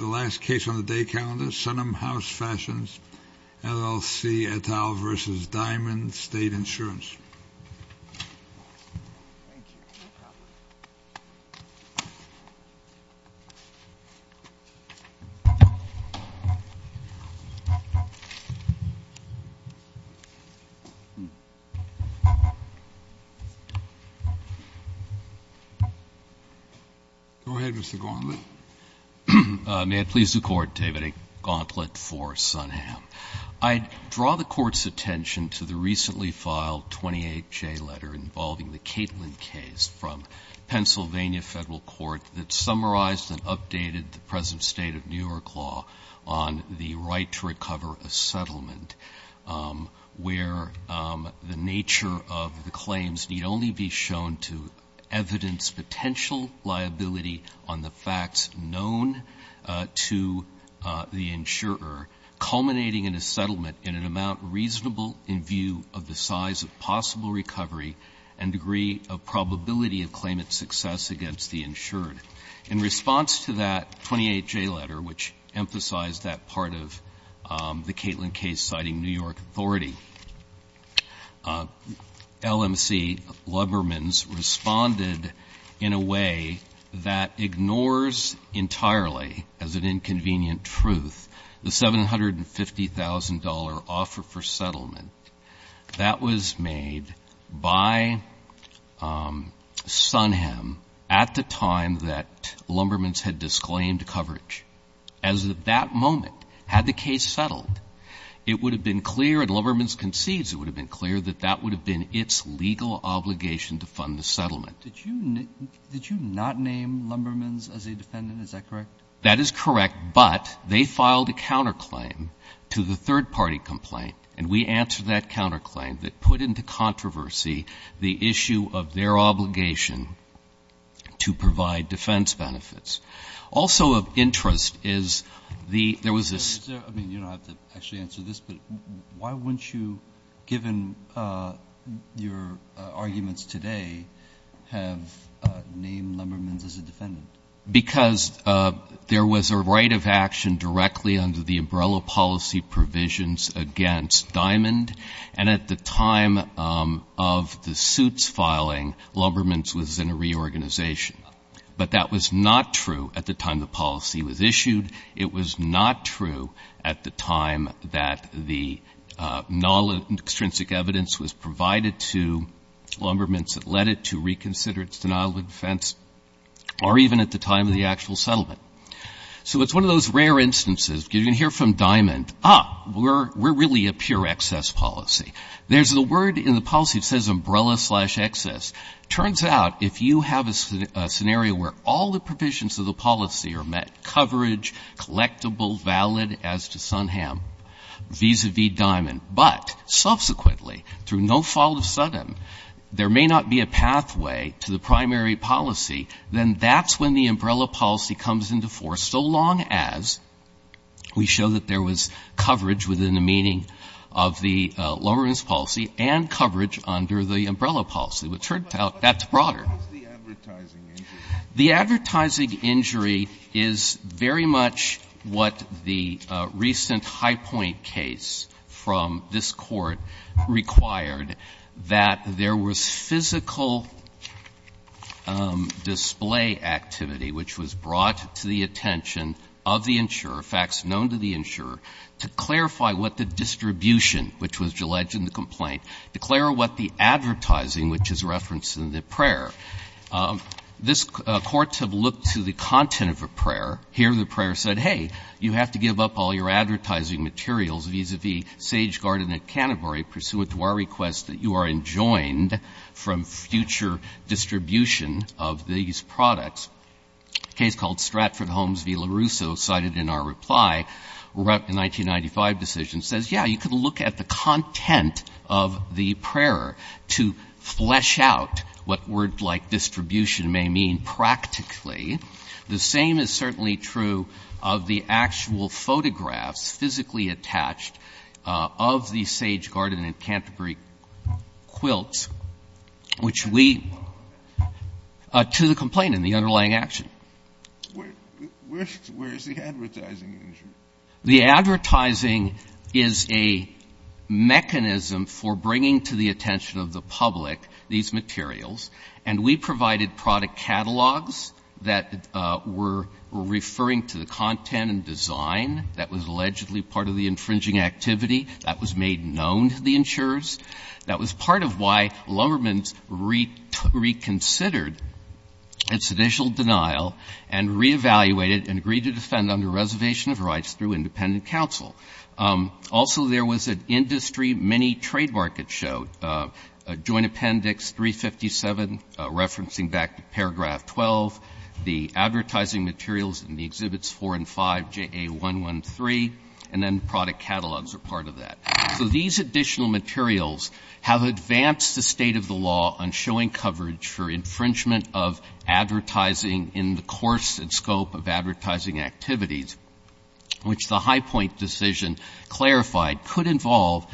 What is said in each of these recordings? Diamond State Insurance, LLC, LLC, LLC, LLC, LLC, LLC, LLC, LLC, LLC, LLC, LLC, LLC, LLC, I draw the court's attention to the recently filed 28J letter involving the Catlin case from Pennsylvania Federal Court that summarized and updated the present state of New York law on the right to recover a settlement where the nature of the claims need only be shown to evidence potential liability on the facts known to the insurer, culminating in a settlement in an amount reasonable in view of the size of possible recovery and degree of probability of claimant's success against the insured. In response to that 28J letter, which emphasized that part of the Catlin case citing New York authority, LMC Lubbermans responded in a way that ignores entirely, as an inconvenient truth, the $750,000 offer for settlement that was made by Sunham at the time that Lubbermans had disclaimed coverage. As of that moment, had the case settled, it would have been clear, and Lubbermans concedes it would have been clear, that that would have been its legal obligation to fund the settlement. Did you not name Lubbermans as a defendant? Is that correct? That is correct, but they filed a counterclaim to the third-party complaint, and we answered that counterclaim that put into controversy the issue of their obligation to provide defense benefits. Also of interest is the ‑‑ I mean, you don't have to actually answer this, but why wouldn't you, given your background, have named Lubbermans as a defendant? Because there was a right of action directly under the umbrella policy provisions against Diamond, and at the time of the suits filing, Lubbermans was in a reorganization. But that was not true at the time the policy was issued. It was not true at the time that the non-extrinsic evidence was provided to Lubbermans that led it to reconsider its denial of defense, or even at the time of the actual settlement. So it's one of those rare instances. You can hear from Diamond, ah, we're really a pure excess policy. There's a word in the policy that says umbrella slash excess. Turns out if you have a scenario where all the provisions of the policy are met, coverage, collectible, valid, as to Sunham, vis‑a‑vis Diamond, but subsequently, through no fault of Sunham, there may not be a pathway to the primary policy, then that's when the umbrella policy comes into force, so long as we show that there was coverage within the meaning of the Lubbermans policy and coverage under the umbrella policy. But it turns out that's broader. The advertising injury is very much what the recent High Point case from this Court required, that there was physical display activity which was brought to the attention of the insurer, facts known to the insurer, to clarify what the distribution, which was alleged in the complaint, to clarify what the advertising, which is referenced in the prayer. This Court to look to the content of a prayer, hear the prayer said, hey, you have to give up all your advertising materials vis‑a‑vis Sage Garden and Canterbury pursuant to our request that you are enjoined from future distribution of these products. A case called Stratford Homes v. LaRusso cited in our reply, a 1995 decision, says, yeah, you can look at the content of the prayer to flesh out what word like distribution may mean practically. The same is certainly true of the actual photographs physically attached of the Sage Garden and Canterbury quilts, which we, to the complaint and the underlying action. Where is the advertising injury? The advertising is a mechanism for bringing to the attention of the public these things that were referring to the content and design that was allegedly part of the infringing activity, that was made known to the insurers, that was part of why Lumberman reconsidered its initial denial and reevaluated and agreed to defend under reservation of rights through independent counsel. Also, there was an industry mini trade market show, Joint Appendix 357, referencing back to Paragraph 12, the advertising materials in the Exhibits 4 and 5, JA113, and then product catalogs are part of that. So these additional materials have advanced the state of the law on showing coverage for infringement of advertising in the course and scope of advertising activities, which the High Point decision clarified could involve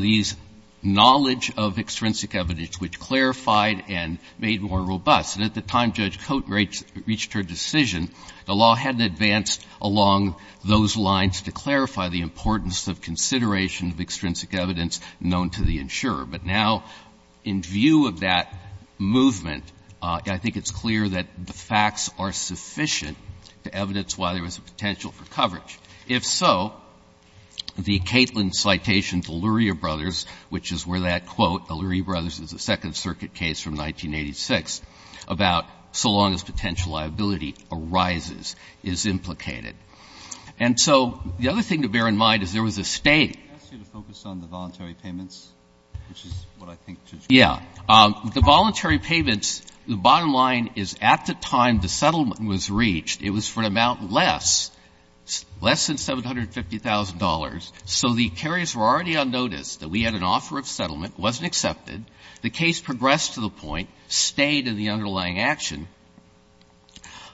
these knowledge of extrinsic evidence, which clarified and made more robust. And at the time Judge Cote reached her decision, the law hadn't advanced along those lines to clarify the importance of consideration of extrinsic evidence known to the insurer. But now, in view of that movement, I think it's clear that the facts are sufficient to evidence why there was a potential for coverage. If so, the Catlin citation to Lurie Brothers, which is where that quote, Lurie Brothers is a Second Circuit case from 1986, about so long as potential liability arises, is implicated. And so the other thing to bear in mind is there was a State. Breyer. Can I ask you to focus on the voluntary payments, which is what I think Judge Cote said. Yeah. The voluntary payments, the bottom line is at the time the settlement was reached, it was for an amount less, less than $750,000. So the carriers were already on notice that we had an offer of settlement, wasn't accepted. The case progressed to the point, stayed in the underlying action,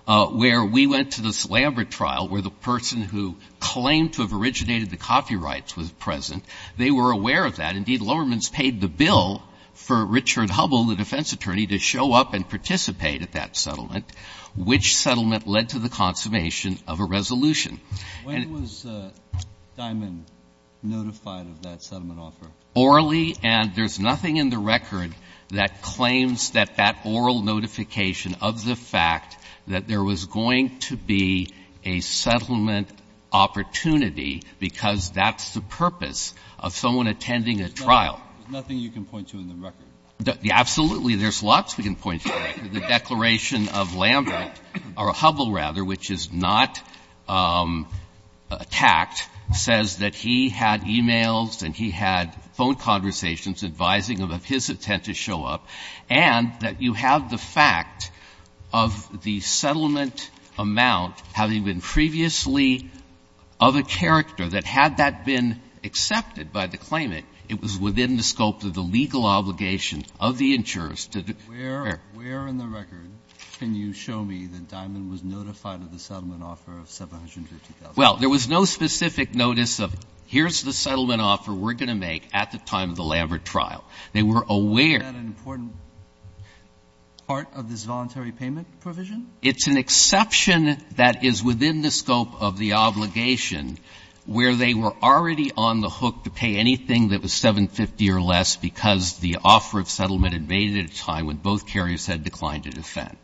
where we went to this Lambert trial where the person who claimed to have originated the copyrights was present. They were aware of that. Indeed, Lowerman's paid the bill for Richard Hubble, the defense attorney, to show up and participate at that settlement. Which settlement led to the consummation of a resolution. When was Dimond notified of that settlement offer? Orally. And there's nothing in the record that claims that that oral notification of the fact that there was going to be a settlement opportunity because that's the purpose of someone attending a trial. There's nothing you can point to in the record? Absolutely, there's lots we can point to. The declaration of Lambert, or Hubble rather, which is not attacked, says that he had e-mails and he had phone conversations advising of his intent to show up, and that you have the fact of the settlement amount having been previously of a character that had that been accepted by the claimant, it was within the scope of the legal obligation of the insurers to declare. Where in the record can you show me that Dimond was notified of the settlement offer of $750,000? Well, there was no specific notice of here's the settlement offer we're going to make at the time of the Lambert trial. They were aware. Is that an important part of this voluntary payment provision? It's an exception that is within the scope of the obligation where they were already on the hook to pay anything that was $750,000 or less because the offer of settlement had made it at a time when both carriers had declined to defend.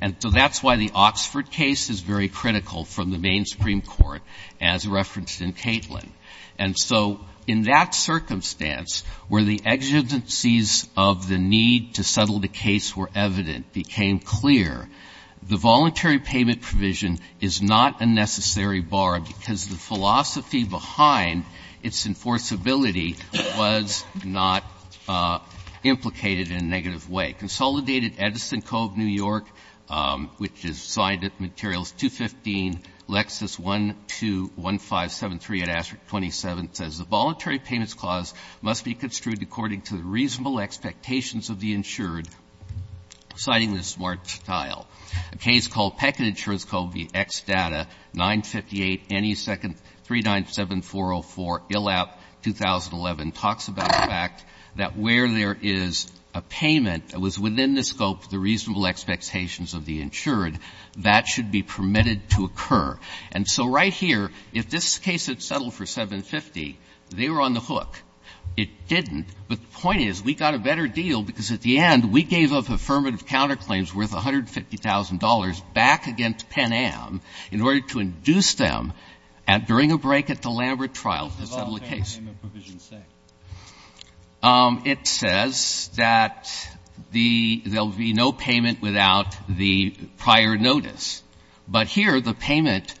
And so that's why the Oxford case is very critical from the main Supreme Court, as referenced in Catlin. And so in that circumstance where the exigencies of the need to settle the case were evident, became clear, the voluntary payment provision is not a necessary bar because the philosophy behind its enforceability was not implicated in a negative way. Consolidated Edison Cove, New York, which is signed at Materials 215, Lexis 121573 at Asterix 27, says the voluntary payments clause must be construed according to the reasonable expectations of the insured, citing the smart tile. A case called Peckin Insurance Cove v. Xdata, 958-397-404, Illap, 2011, talks about the fact that where there is a payment that was within the scope of the reasonable expectations of the insured, that should be permitted to occur. And so right here, if this case had settled for $750,000, they were on the hook. It didn't. But the point is, we got a better deal because at the end, we gave up affirmative counterclaims worth $150,000 back against Penn-Am in order to induce them at, during a break at the Lambert trial, to settle the case. Breyer, what does the voluntary payment provision say? It says that the — there will be no payment without the prior notice. But here, the payment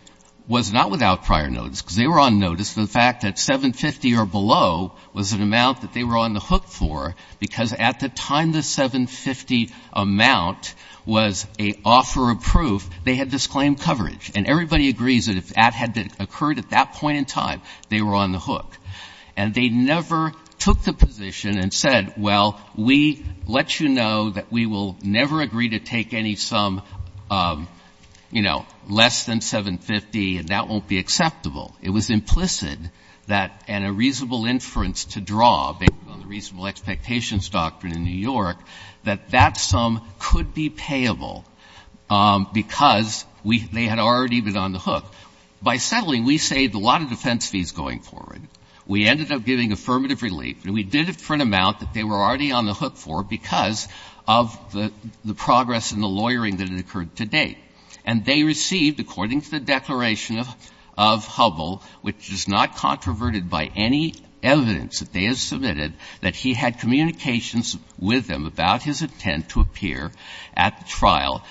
was not without prior notice, because they were on notice. The fact that $750,000 or below was an amount that they were on the hook for because at the time the $750,000 amount was an offer of proof, they had disclaimed coverage. And everybody agrees that if that had occurred at that point in time, they were on the hook. And they never took the position and said, well, we let you know that we will never agree to take any sum, you know, less than $750,000, and that won't be acceptable. It was implicit that, and a reasonable inference to draw, based on the reasonable expectations doctrine in New York, that that sum could be payable because we — they had already been on the hook. By settling, we saved a lot of defense fees going forward. We ended up giving affirmative relief, and we did it for an amount that they were already on the hook for because of the progress in the lawyering that had occurred to date. And they received, according to the Declaration of Hubble, which is not controverted by any evidence that they had submitted, that he had communications with them about his intent to appear at the trial.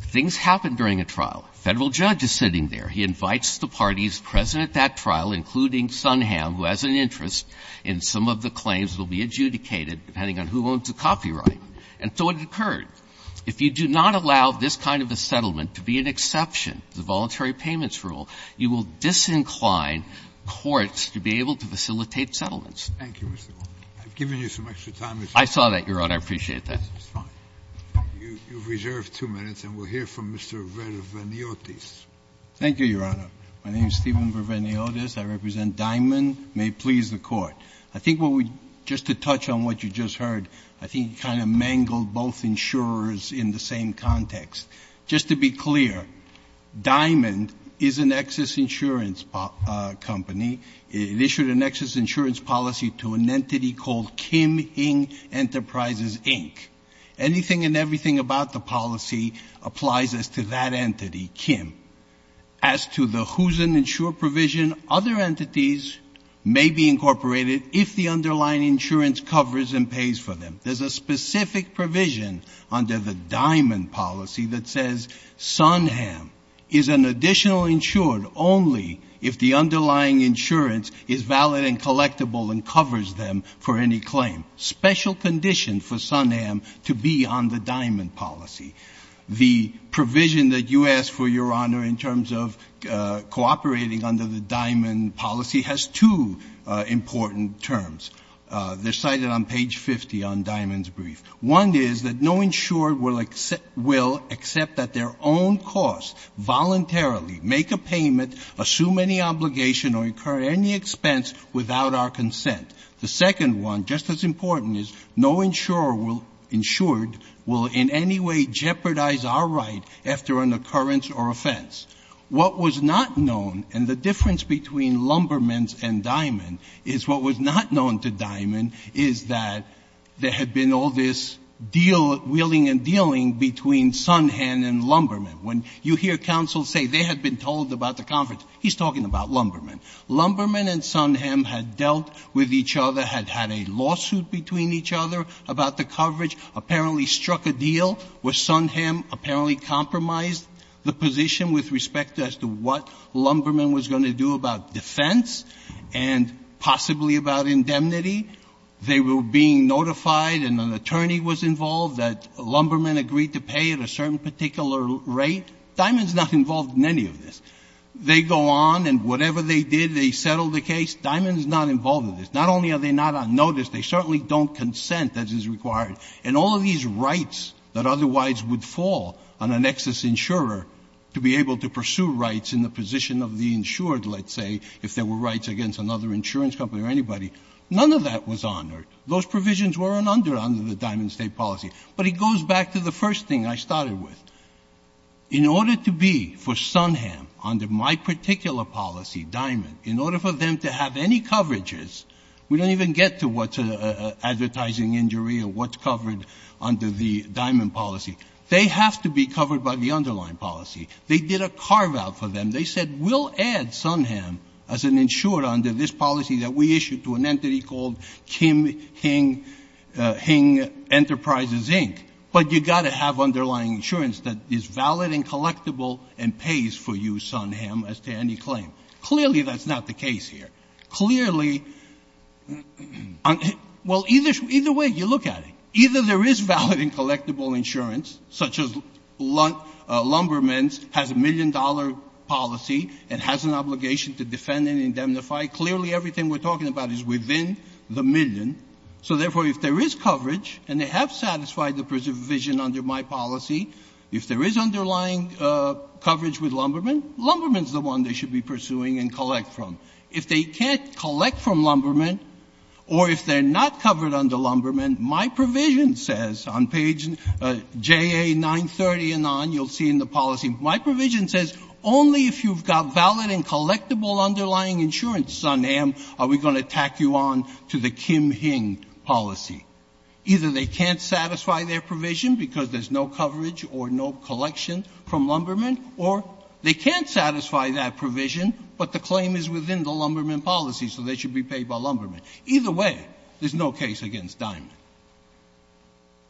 Things happen during a trial. A Federal judge is sitting there. He invites the parties present at that trial, including Sunham, who has an interest in some of the claims that will be adjudicated, depending on who owns the copyright. And so it occurred. If you do not allow this kind of a settlement to be an exception, the Voluntary Payments Rule, you will disincline courts to be able to facilitate settlements. Thank you, Mr. Goldman. I've given you some extra time, Mr. Goldman. I saw that, Your Honor. I appreciate that. That's fine. You've reserved two minutes, and we'll hear from Mr. Verveniotis. Thank you, Your Honor. My name is Steven Verveniotis. I represent Dimond. May it please the Court. I think what we — just to touch on what you just heard, I think you kind of mangled both insurers in the same context. Just to be clear, Dimond is an excess insurance company. It issued an excess insurance policy to an entity called Kim Ing Enterprises, Inc. Anything and everything about the policy applies as to that entity, Kim. As to the Who's an Insurer provision, other entities may be incorporated if the underlying insurance covers and pays for them. There's a specific provision under the Dimond policy that says Sunham is an additional insured only if the underlying insurance is valid and collectible and covers them for any claim. Special condition for Sunham to be on the Dimond policy. The provision that you asked for, Your Honor, in terms of cooperating under the Dimond policy has two important terms. They're cited on page 50 on Dimond's brief. One is that no insurer will accept that their own costs voluntarily make a payment, assume any obligation or incur any expense without our consent. The second one, just as important, is no insurer will — insured will in any way jeopardize our right after an occurrence or offense. What was not known, and the difference between Lumbermans and Dimond is what was not known to Dimond, is that there had been all this deal — wheeling and dealing between Sunham and Lumberman. When you hear counsel say they had been told about the conference, he's talking about Lumberman. Lumberman and Sunham had dealt with each other, had had a lawsuit between each other about the coverage, apparently struck a deal where Sunham apparently compromised the position with respect as to what Lumberman was going to do about defense and possibly about indemnity. They were being notified and an attorney was involved that Lumberman agreed to pay at a certain particular rate. Dimond's not involved in any of this. They go on and whatever they did, they settled the case. Dimond is not involved in this. Not only are they not on notice, they certainly don't consent as is required. And all of these rights that otherwise would fall on an excess insurer to be able to pursue rights in the position of the insured, let's say, if there were rights against another insurance company or anybody, none of that was honored. Those provisions weren't under the Diamond State policy. But it goes back to the first thing I started with. In order to be, for Sunham, under my particular policy, Diamond, in order for them to have any coverages, we don't even get to what's an advertising injury or what's covered under the Diamond policy. They have to be covered by the underlying policy. They did a carve out for them. They said, we'll add Sunham as an insurer under this policy that we issued to an entity called Kim Hing Enterprises, Inc., but you've got to have underlying insurance that is valid and collectible and pays for you, Sunham, as to any claim. Clearly, that's not the case here. Clearly, well, either way you look at it, either there is valid and collectible insurance, such as Lumberman's has a million-dollar policy and has an obligation to defend and indemnify. Clearly, everything we're talking about is within the million. So, therefore, if there is coverage and they have satisfied the provision under my policy, if there is underlying coverage with Lumberman, Lumberman's the one they should be pursuing and collect from. If they can't collect from Lumberman or if they're not covered under Lumberman, my provision says on page JA 930 and on, you'll see in the policy, my provision says only if you've got valid and collectible underlying insurance, Sunham, are we going to tack you on to the Kim Hing policy. Either they can't satisfy their provision because there's no coverage or no collection from Lumberman, or they can't satisfy that provision, but the claim is within the Lumberman policy, so they should be paid by Lumberman. Either way, there's no case against Diamond.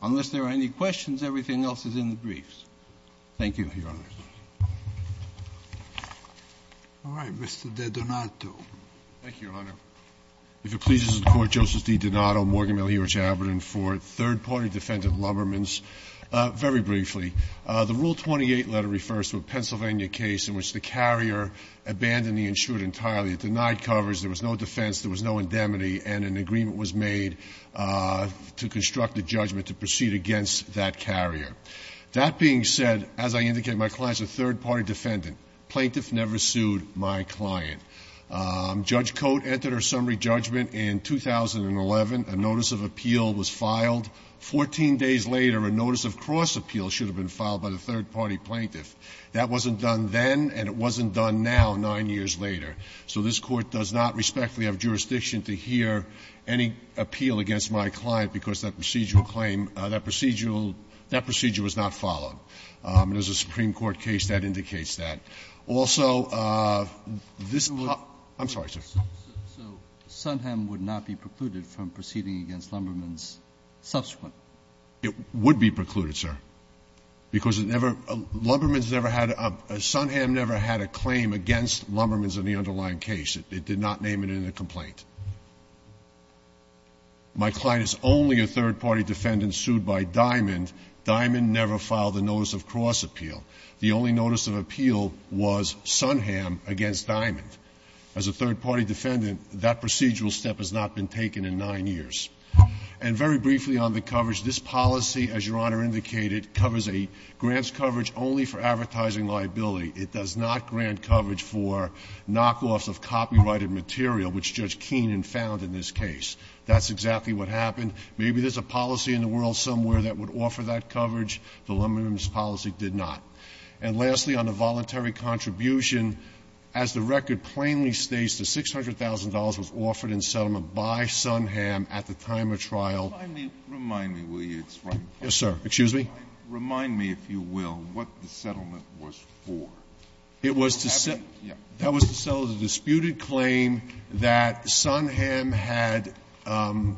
Unless there are any questions, everything else is in the briefs. Thank you, Your Honor. All right. Mr. DeDonato. Thank you, Your Honor. If it pleases the Court, Justice DeDonato, Morgan, Miller, Hewitt, Chabot, and Ford, third-party defendant Lumberman's. Very briefly, the Rule 28 letter refers to a Pennsylvania case in which the carrier abandoned the insured entirely. It denied coverage. There was no defense. There was no indemnity, and an agreement was made to construct a judgment to proceed against that carrier. That being said, as I indicated, my client is a third-party defendant. Plaintiff never sued my client. Judge Cote entered her summary judgment in 2011. A notice of appeal was filed. Fourteen days later, a notice of cross-appeal should have been filed by the third- party plaintiff. That wasn't done then, and it wasn't done now, nine years later. So this Court does not respectfully have jurisdiction to hear any appeal against my client because that procedural claim, that procedural, that procedure was not followed. And as a Supreme Court case, that indicates that. Also, this part of the case, I'm sorry, sir. So Sunham would not be precluded from proceeding against Lumberman's subsequent? It would be precluded, sir, because it never, Lumberman's never had a, Sunham never had a claim against Lumberman's in the underlying case. It did not name it in the complaint. My client is only a third-party defendant sued by Diamond. Diamond never filed a notice of cross-appeal. The only notice of appeal was Sunham against Diamond. As a third-party defendant, that procedural step has not been taken in nine years. And very briefly on the coverage, this policy, as Your Honor indicated, covers a grants coverage only for advertising liability. It does not grant coverage for knockoffs of copyrighted material, which Judge Keenan found in this case. That's exactly what happened. Maybe there's a policy in the world somewhere that would offer that coverage. Lumberman's policy did not. And lastly, on the voluntary contribution, as the record plainly states, the $600,000 was offered in settlement by Sunham at the time of trial. Remind me, will you, it's right in front of me. Yes, sir. Excuse me? Remind me, if you will, what the settlement was for. It was to settle the disputed claim that Sunham had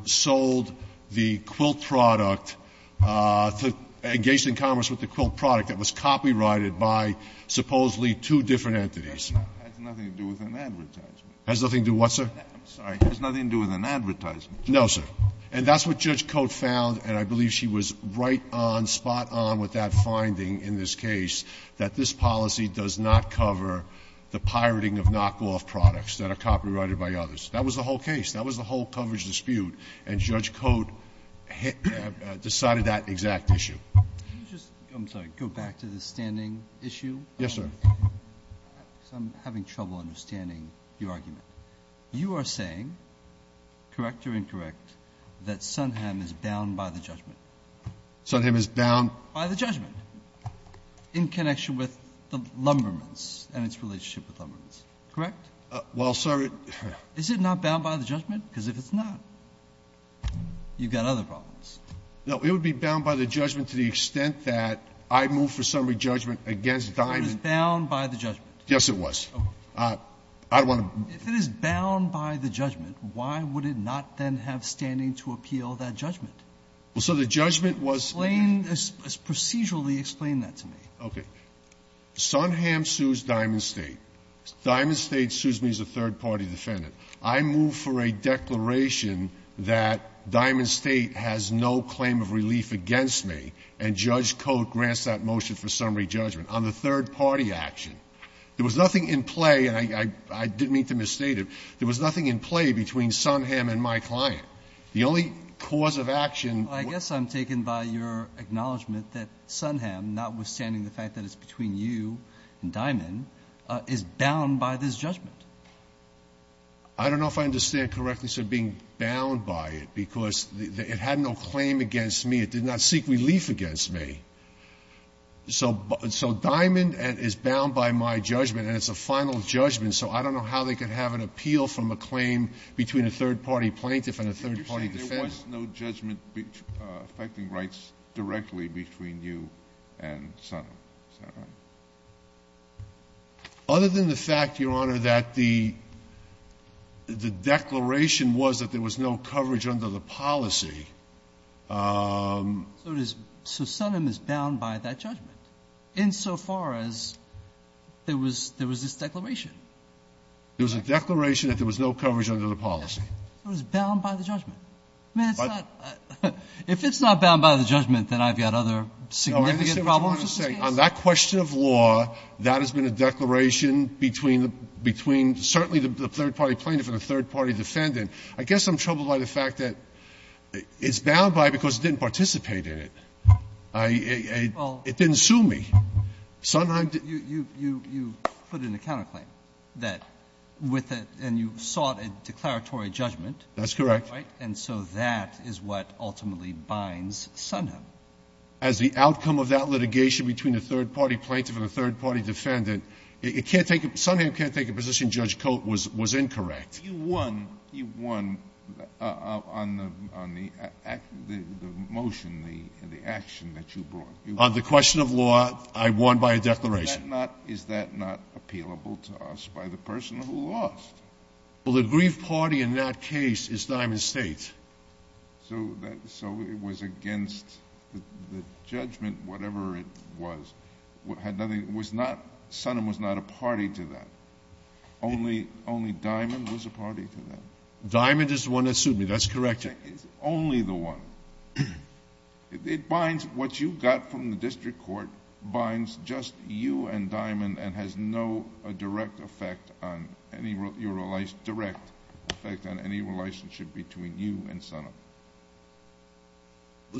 sold the quilt product to engage in commerce with the quilt product that was copyrighted by supposedly two different entities. That has nothing to do with an advertisement. Has nothing to do with what, sir? I'm sorry. Has nothing to do with an advertisement. No, sir. And that's what Judge Cote found, and I believe she was right on, spot on with that finding in this case, that this policy does not cover the pirating of knockoff products that are copyrighted by others. That was the whole case. That was the whole coverage dispute. And Judge Cote decided that exact issue. Can you just, I'm sorry, go back to the standing issue? Yes, sir. I'm having trouble understanding your argument. You are saying, correct or incorrect, that Sunham is bound by the judgment. Sunham is bound by the judgment. In connection with the Lumbermans and its relationship with Lumbermans. Correct? Well, sir. Is it not bound by the judgment? Because if it's not, you've got other problems. No, it would be bound by the judgment to the extent that I move for summary judgment against Diamond. It was bound by the judgment. Yes, it was. I don't want to. If it is bound by the judgment, why would it not then have standing to appeal that judgment? Well, sir, the judgment was. Explain, procedurally explain that to me. Okay. Sunham sues Diamond State. Diamond State sues me as a third-party defendant. I move for a declaration that Diamond State has no claim of relief against me, and Judge Cote grants that motion for summary judgment on the third-party action. There was nothing in play, and I didn't mean to misstate it. There was nothing in play between Sunham and my client. The only cause of action. I guess I'm taken by your acknowledgment that Sunham, notwithstanding the fact that it's between you and Diamond, is bound by this judgment. I don't know if I understand correctly, sir, being bound by it because it had no claim against me. It did not seek relief against me. So Diamond is bound by my judgment, and it's a final judgment, so I don't know how they could have an appeal from a claim between a third-party plaintiff and a third-party defendant. There was no judgment affecting rights directly between you and Sunham, is that right? Other than the fact, Your Honor, that the declaration was that there was no coverage under the policy. So Sunham is bound by that judgment, insofar as there was this declaration? There was a declaration that there was no coverage under the policy. So it was bound by the judgment. If it's not bound by the judgment, then I've got other significant problems with this case? No, I understand what you want to say. On that question of law, that has been a declaration between certainly the third-party plaintiff and the third-party defendant. I guess I'm troubled by the fact that it's bound by it because it didn't participate in it. It didn't sue me. Sunham didn't. You put in a counterclaim that with a – and you sought a declaratory judgment. That's correct. Right? And so that is what ultimately binds Sunham. As the outcome of that litigation between a third-party plaintiff and a third-party defendant, it can't take – Sunham can't take a position Judge Coates was incorrect. You won on the motion, the action that you brought. On the question of law, I won by a declaration. Is that not appealable to us by the person who lost? Well, the grief party in that case is Diamond State. So it was against the judgment, whatever it was. Sunham was not a party to that. Only – only Diamond was a party to that? Diamond is the one that sued me. That's correct. It's only the one. It binds – what you got from the district court binds just you and Diamond and has no direct effect on any – direct effect on any relationship between you and Sunham.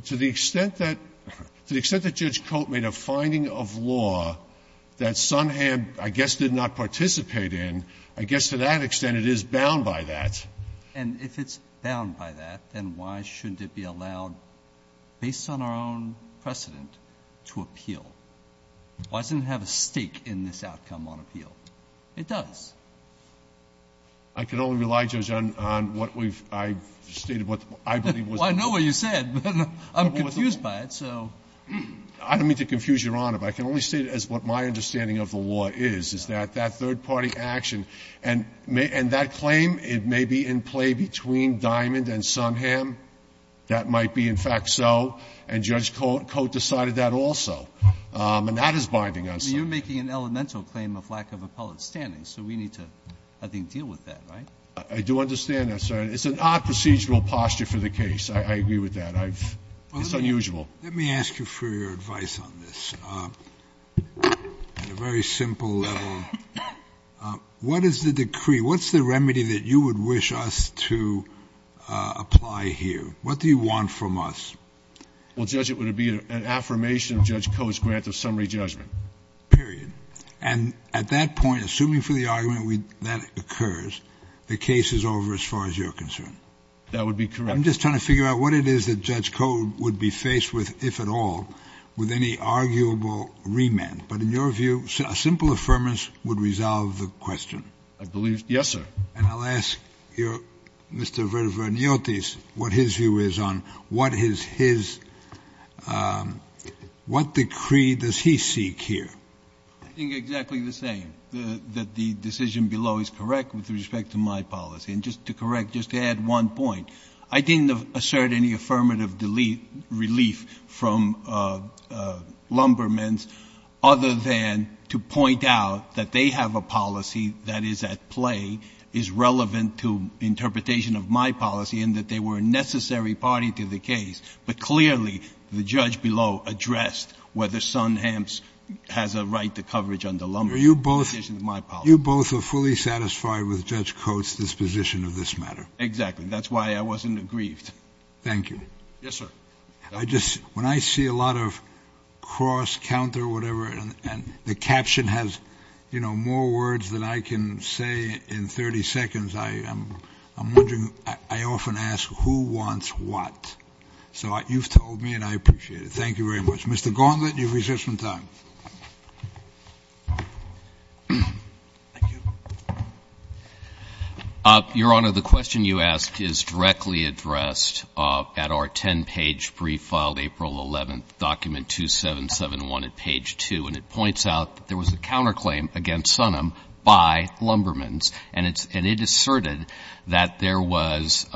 To the extent that – to the extent that Judge Coates made a finding of law that Sunham, I guess, did not participate in, I guess to that extent it is bound by that. And if it's bound by that, then why shouldn't it be allowed, based on our own precedent, to appeal? Why doesn't it have a stake in this outcome on appeal? It does. I can only rely, Judge, on what we've – I've stated what I believe was the point. Well, I know what you said, but I'm confused by it, so. I don't mean to confuse Your Honor, but I can only state it as what my understanding of the law is, is that that third-party action – and that claim, it may be in play between Diamond and Sunham. That might be, in fact, so. And Judge Coates decided that also. And that is binding on Sunham. You're making an elemental claim of lack of appellate standing, so we need to, I think, deal with that, right? I do understand that, sir. It's an odd procedural posture for the case. I agree with that. I've – it's unusual. Let me ask you for your advice on this. At a very simple level, what is the decree? What's the remedy that you would wish us to apply here? What do you want from us? Well, Judge, it would be an affirmation of Judge Coates' grant of summary judgment. Period. And at that point, assuming for the argument that occurs, the case is over as far as you're concerned? That would be correct. I'm just trying to figure out what it is that Judge Coates would be faced with, if at all, with any arguable remand. But in your view, a simple affirmance would resolve the question. I believe – yes, sir. And I'll ask your – Mr. Vernotis what his view is on what is his – what decree does he seek here? I think exactly the same, that the decision below is correct with respect to my policy. And just to correct, just to add one point. I didn't assert any affirmative relief from Lumbermen's other than to point out that they have a policy that is at play, is relevant to interpretation of my policy, and that they were a necessary party to the case. But clearly, the judge below addressed whether Sunhamps has a right to coverage under Lumbermen's in addition to my policy. You both are fully satisfied with Judge Coates' disposition of this matter? Exactly. That's why I wasn't aggrieved. Thank you. Yes, sir. I just – when I see a lot of cross, counter, whatever, and the caption has, you know, more words than I can say in 30 seconds, I'm wondering – I often ask, who wants what? So you've told me, and I appreciate it. Thank you very much. Mr. Gauntlet, you've reserved some time. Thank you. Your Honor, the question you asked is directly addressed at our 10-page brief filed April 11th, document 2771 at page 2. And it points out that there was a counterclaim against Sunham by Lumbermen's. And it asserted that there was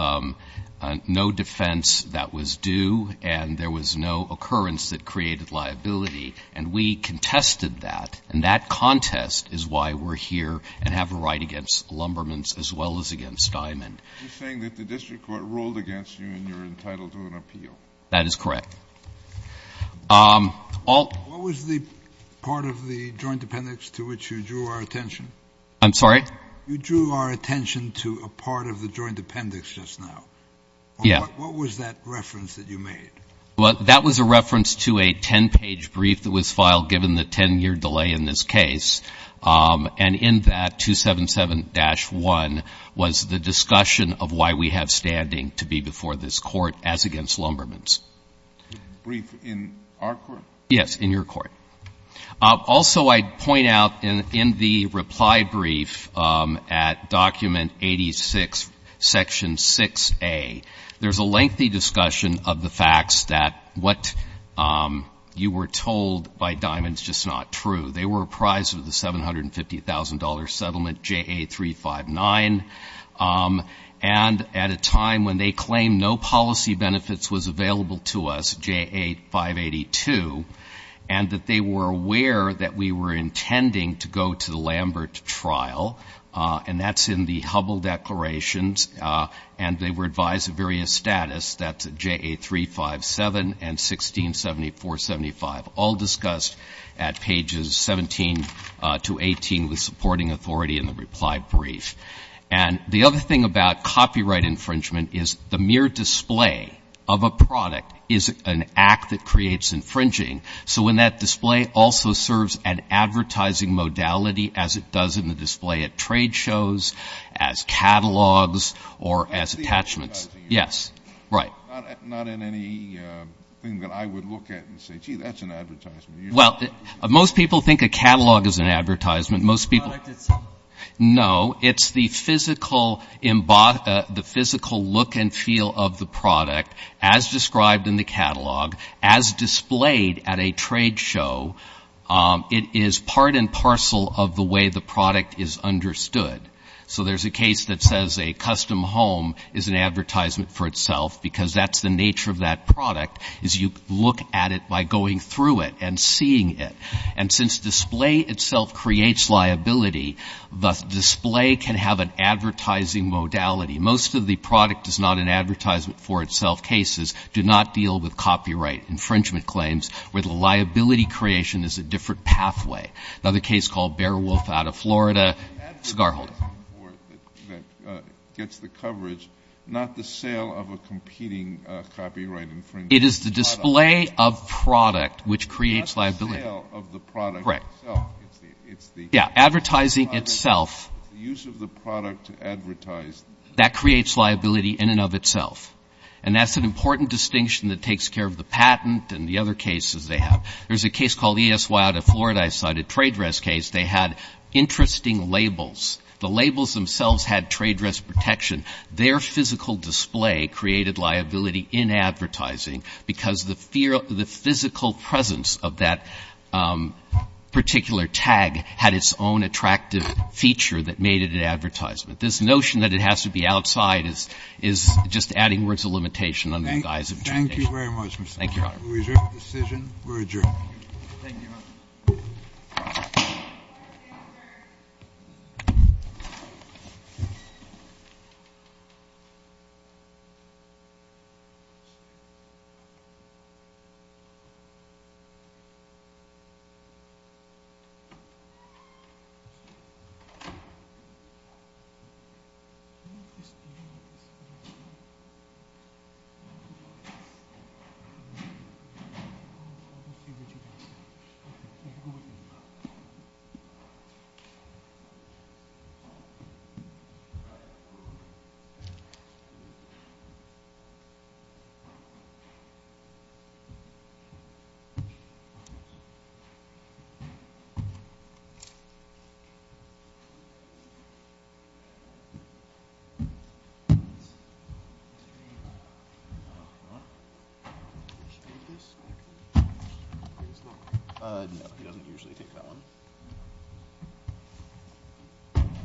no defense that was due, and there was no occurrence that created liability. And we contested that. And that contest is why we're here and have a right against Lumbermen's as well as against Diamond. Are you saying that the district court ruled against you and you're entitled to an appeal? That is correct. What was the part of the joint appendix to which you drew our attention? I'm sorry? You drew our attention to a part of the joint appendix just now. Yeah. What was that reference that you made? Well, that was a reference to a 10-page brief that was filed given the 10-year delay in this case. And in that, 277-1, was the discussion of why we have standing to be before this court as against Lumbermen's. Brief in our court? Yes, in your court. Also, I'd point out in the reply brief at document 86, section 6A, there's a lengthy discussion of the facts that what you were told by Diamond is just not true. They were apprised of the $750,000 settlement, JA359, and at a time when they claimed no policy benefits was available to us, JA582, and that they were aware that we were intending to go to the Lambert trial, and that's in the Hubble declarations, and they were advised of various status, that's JA357 and 1674-75, all discussed at pages 17 to 18 with supporting authority in the reply brief. And the other thing about copyright infringement is the mere display of a product is an act that creates infringing. So when that display also serves an advertising modality as it does in the display at trade shows, as catalogs, or as attachments. Yes. Right. Not in any thing that I would look at and say, gee, that's an advertisement. Well, most people think a catalog is an advertisement. Most people don't. No, it's the physical look and feel of the product as described in the catalog, as displayed at a trade show, it is part and parcel of the way the product is understood. So there's a case that says a custom home is an advertisement for itself, because that's the nature of that product is you look at it by going through it and seeing it. And since display itself creates liability, the display can have an advertising modality. Most of the product is not an advertisement for itself cases do not deal with copyright infringement claims where the liability creation is a different pathway. Another case called Bear Wolf out of Florida. Cigar holder. It's the advertising for it that gets the coverage, not the sale of a competing copyright infringing product. It is the display of product which creates liability. Not the sale of the product itself. Correct. It's the. Yeah, advertising itself. It's the use of the product to advertise. That creates liability in and of itself. And that's an important distinction that takes care of the patent and the other cases they have. There's a case called ESY out of Florida. I cited a trade dress case. They had interesting labels. The labels themselves had trade dress protection. Their physical display created liability in advertising because the physical presence of that particular tag had its own attractive feature that made it an advertisement. This notion that it has to be outside is just adding words of limitation under the guise of. Thank you very much. Thank you. We're adjourned. Thank you. Thank you. He doesn't usually take that one.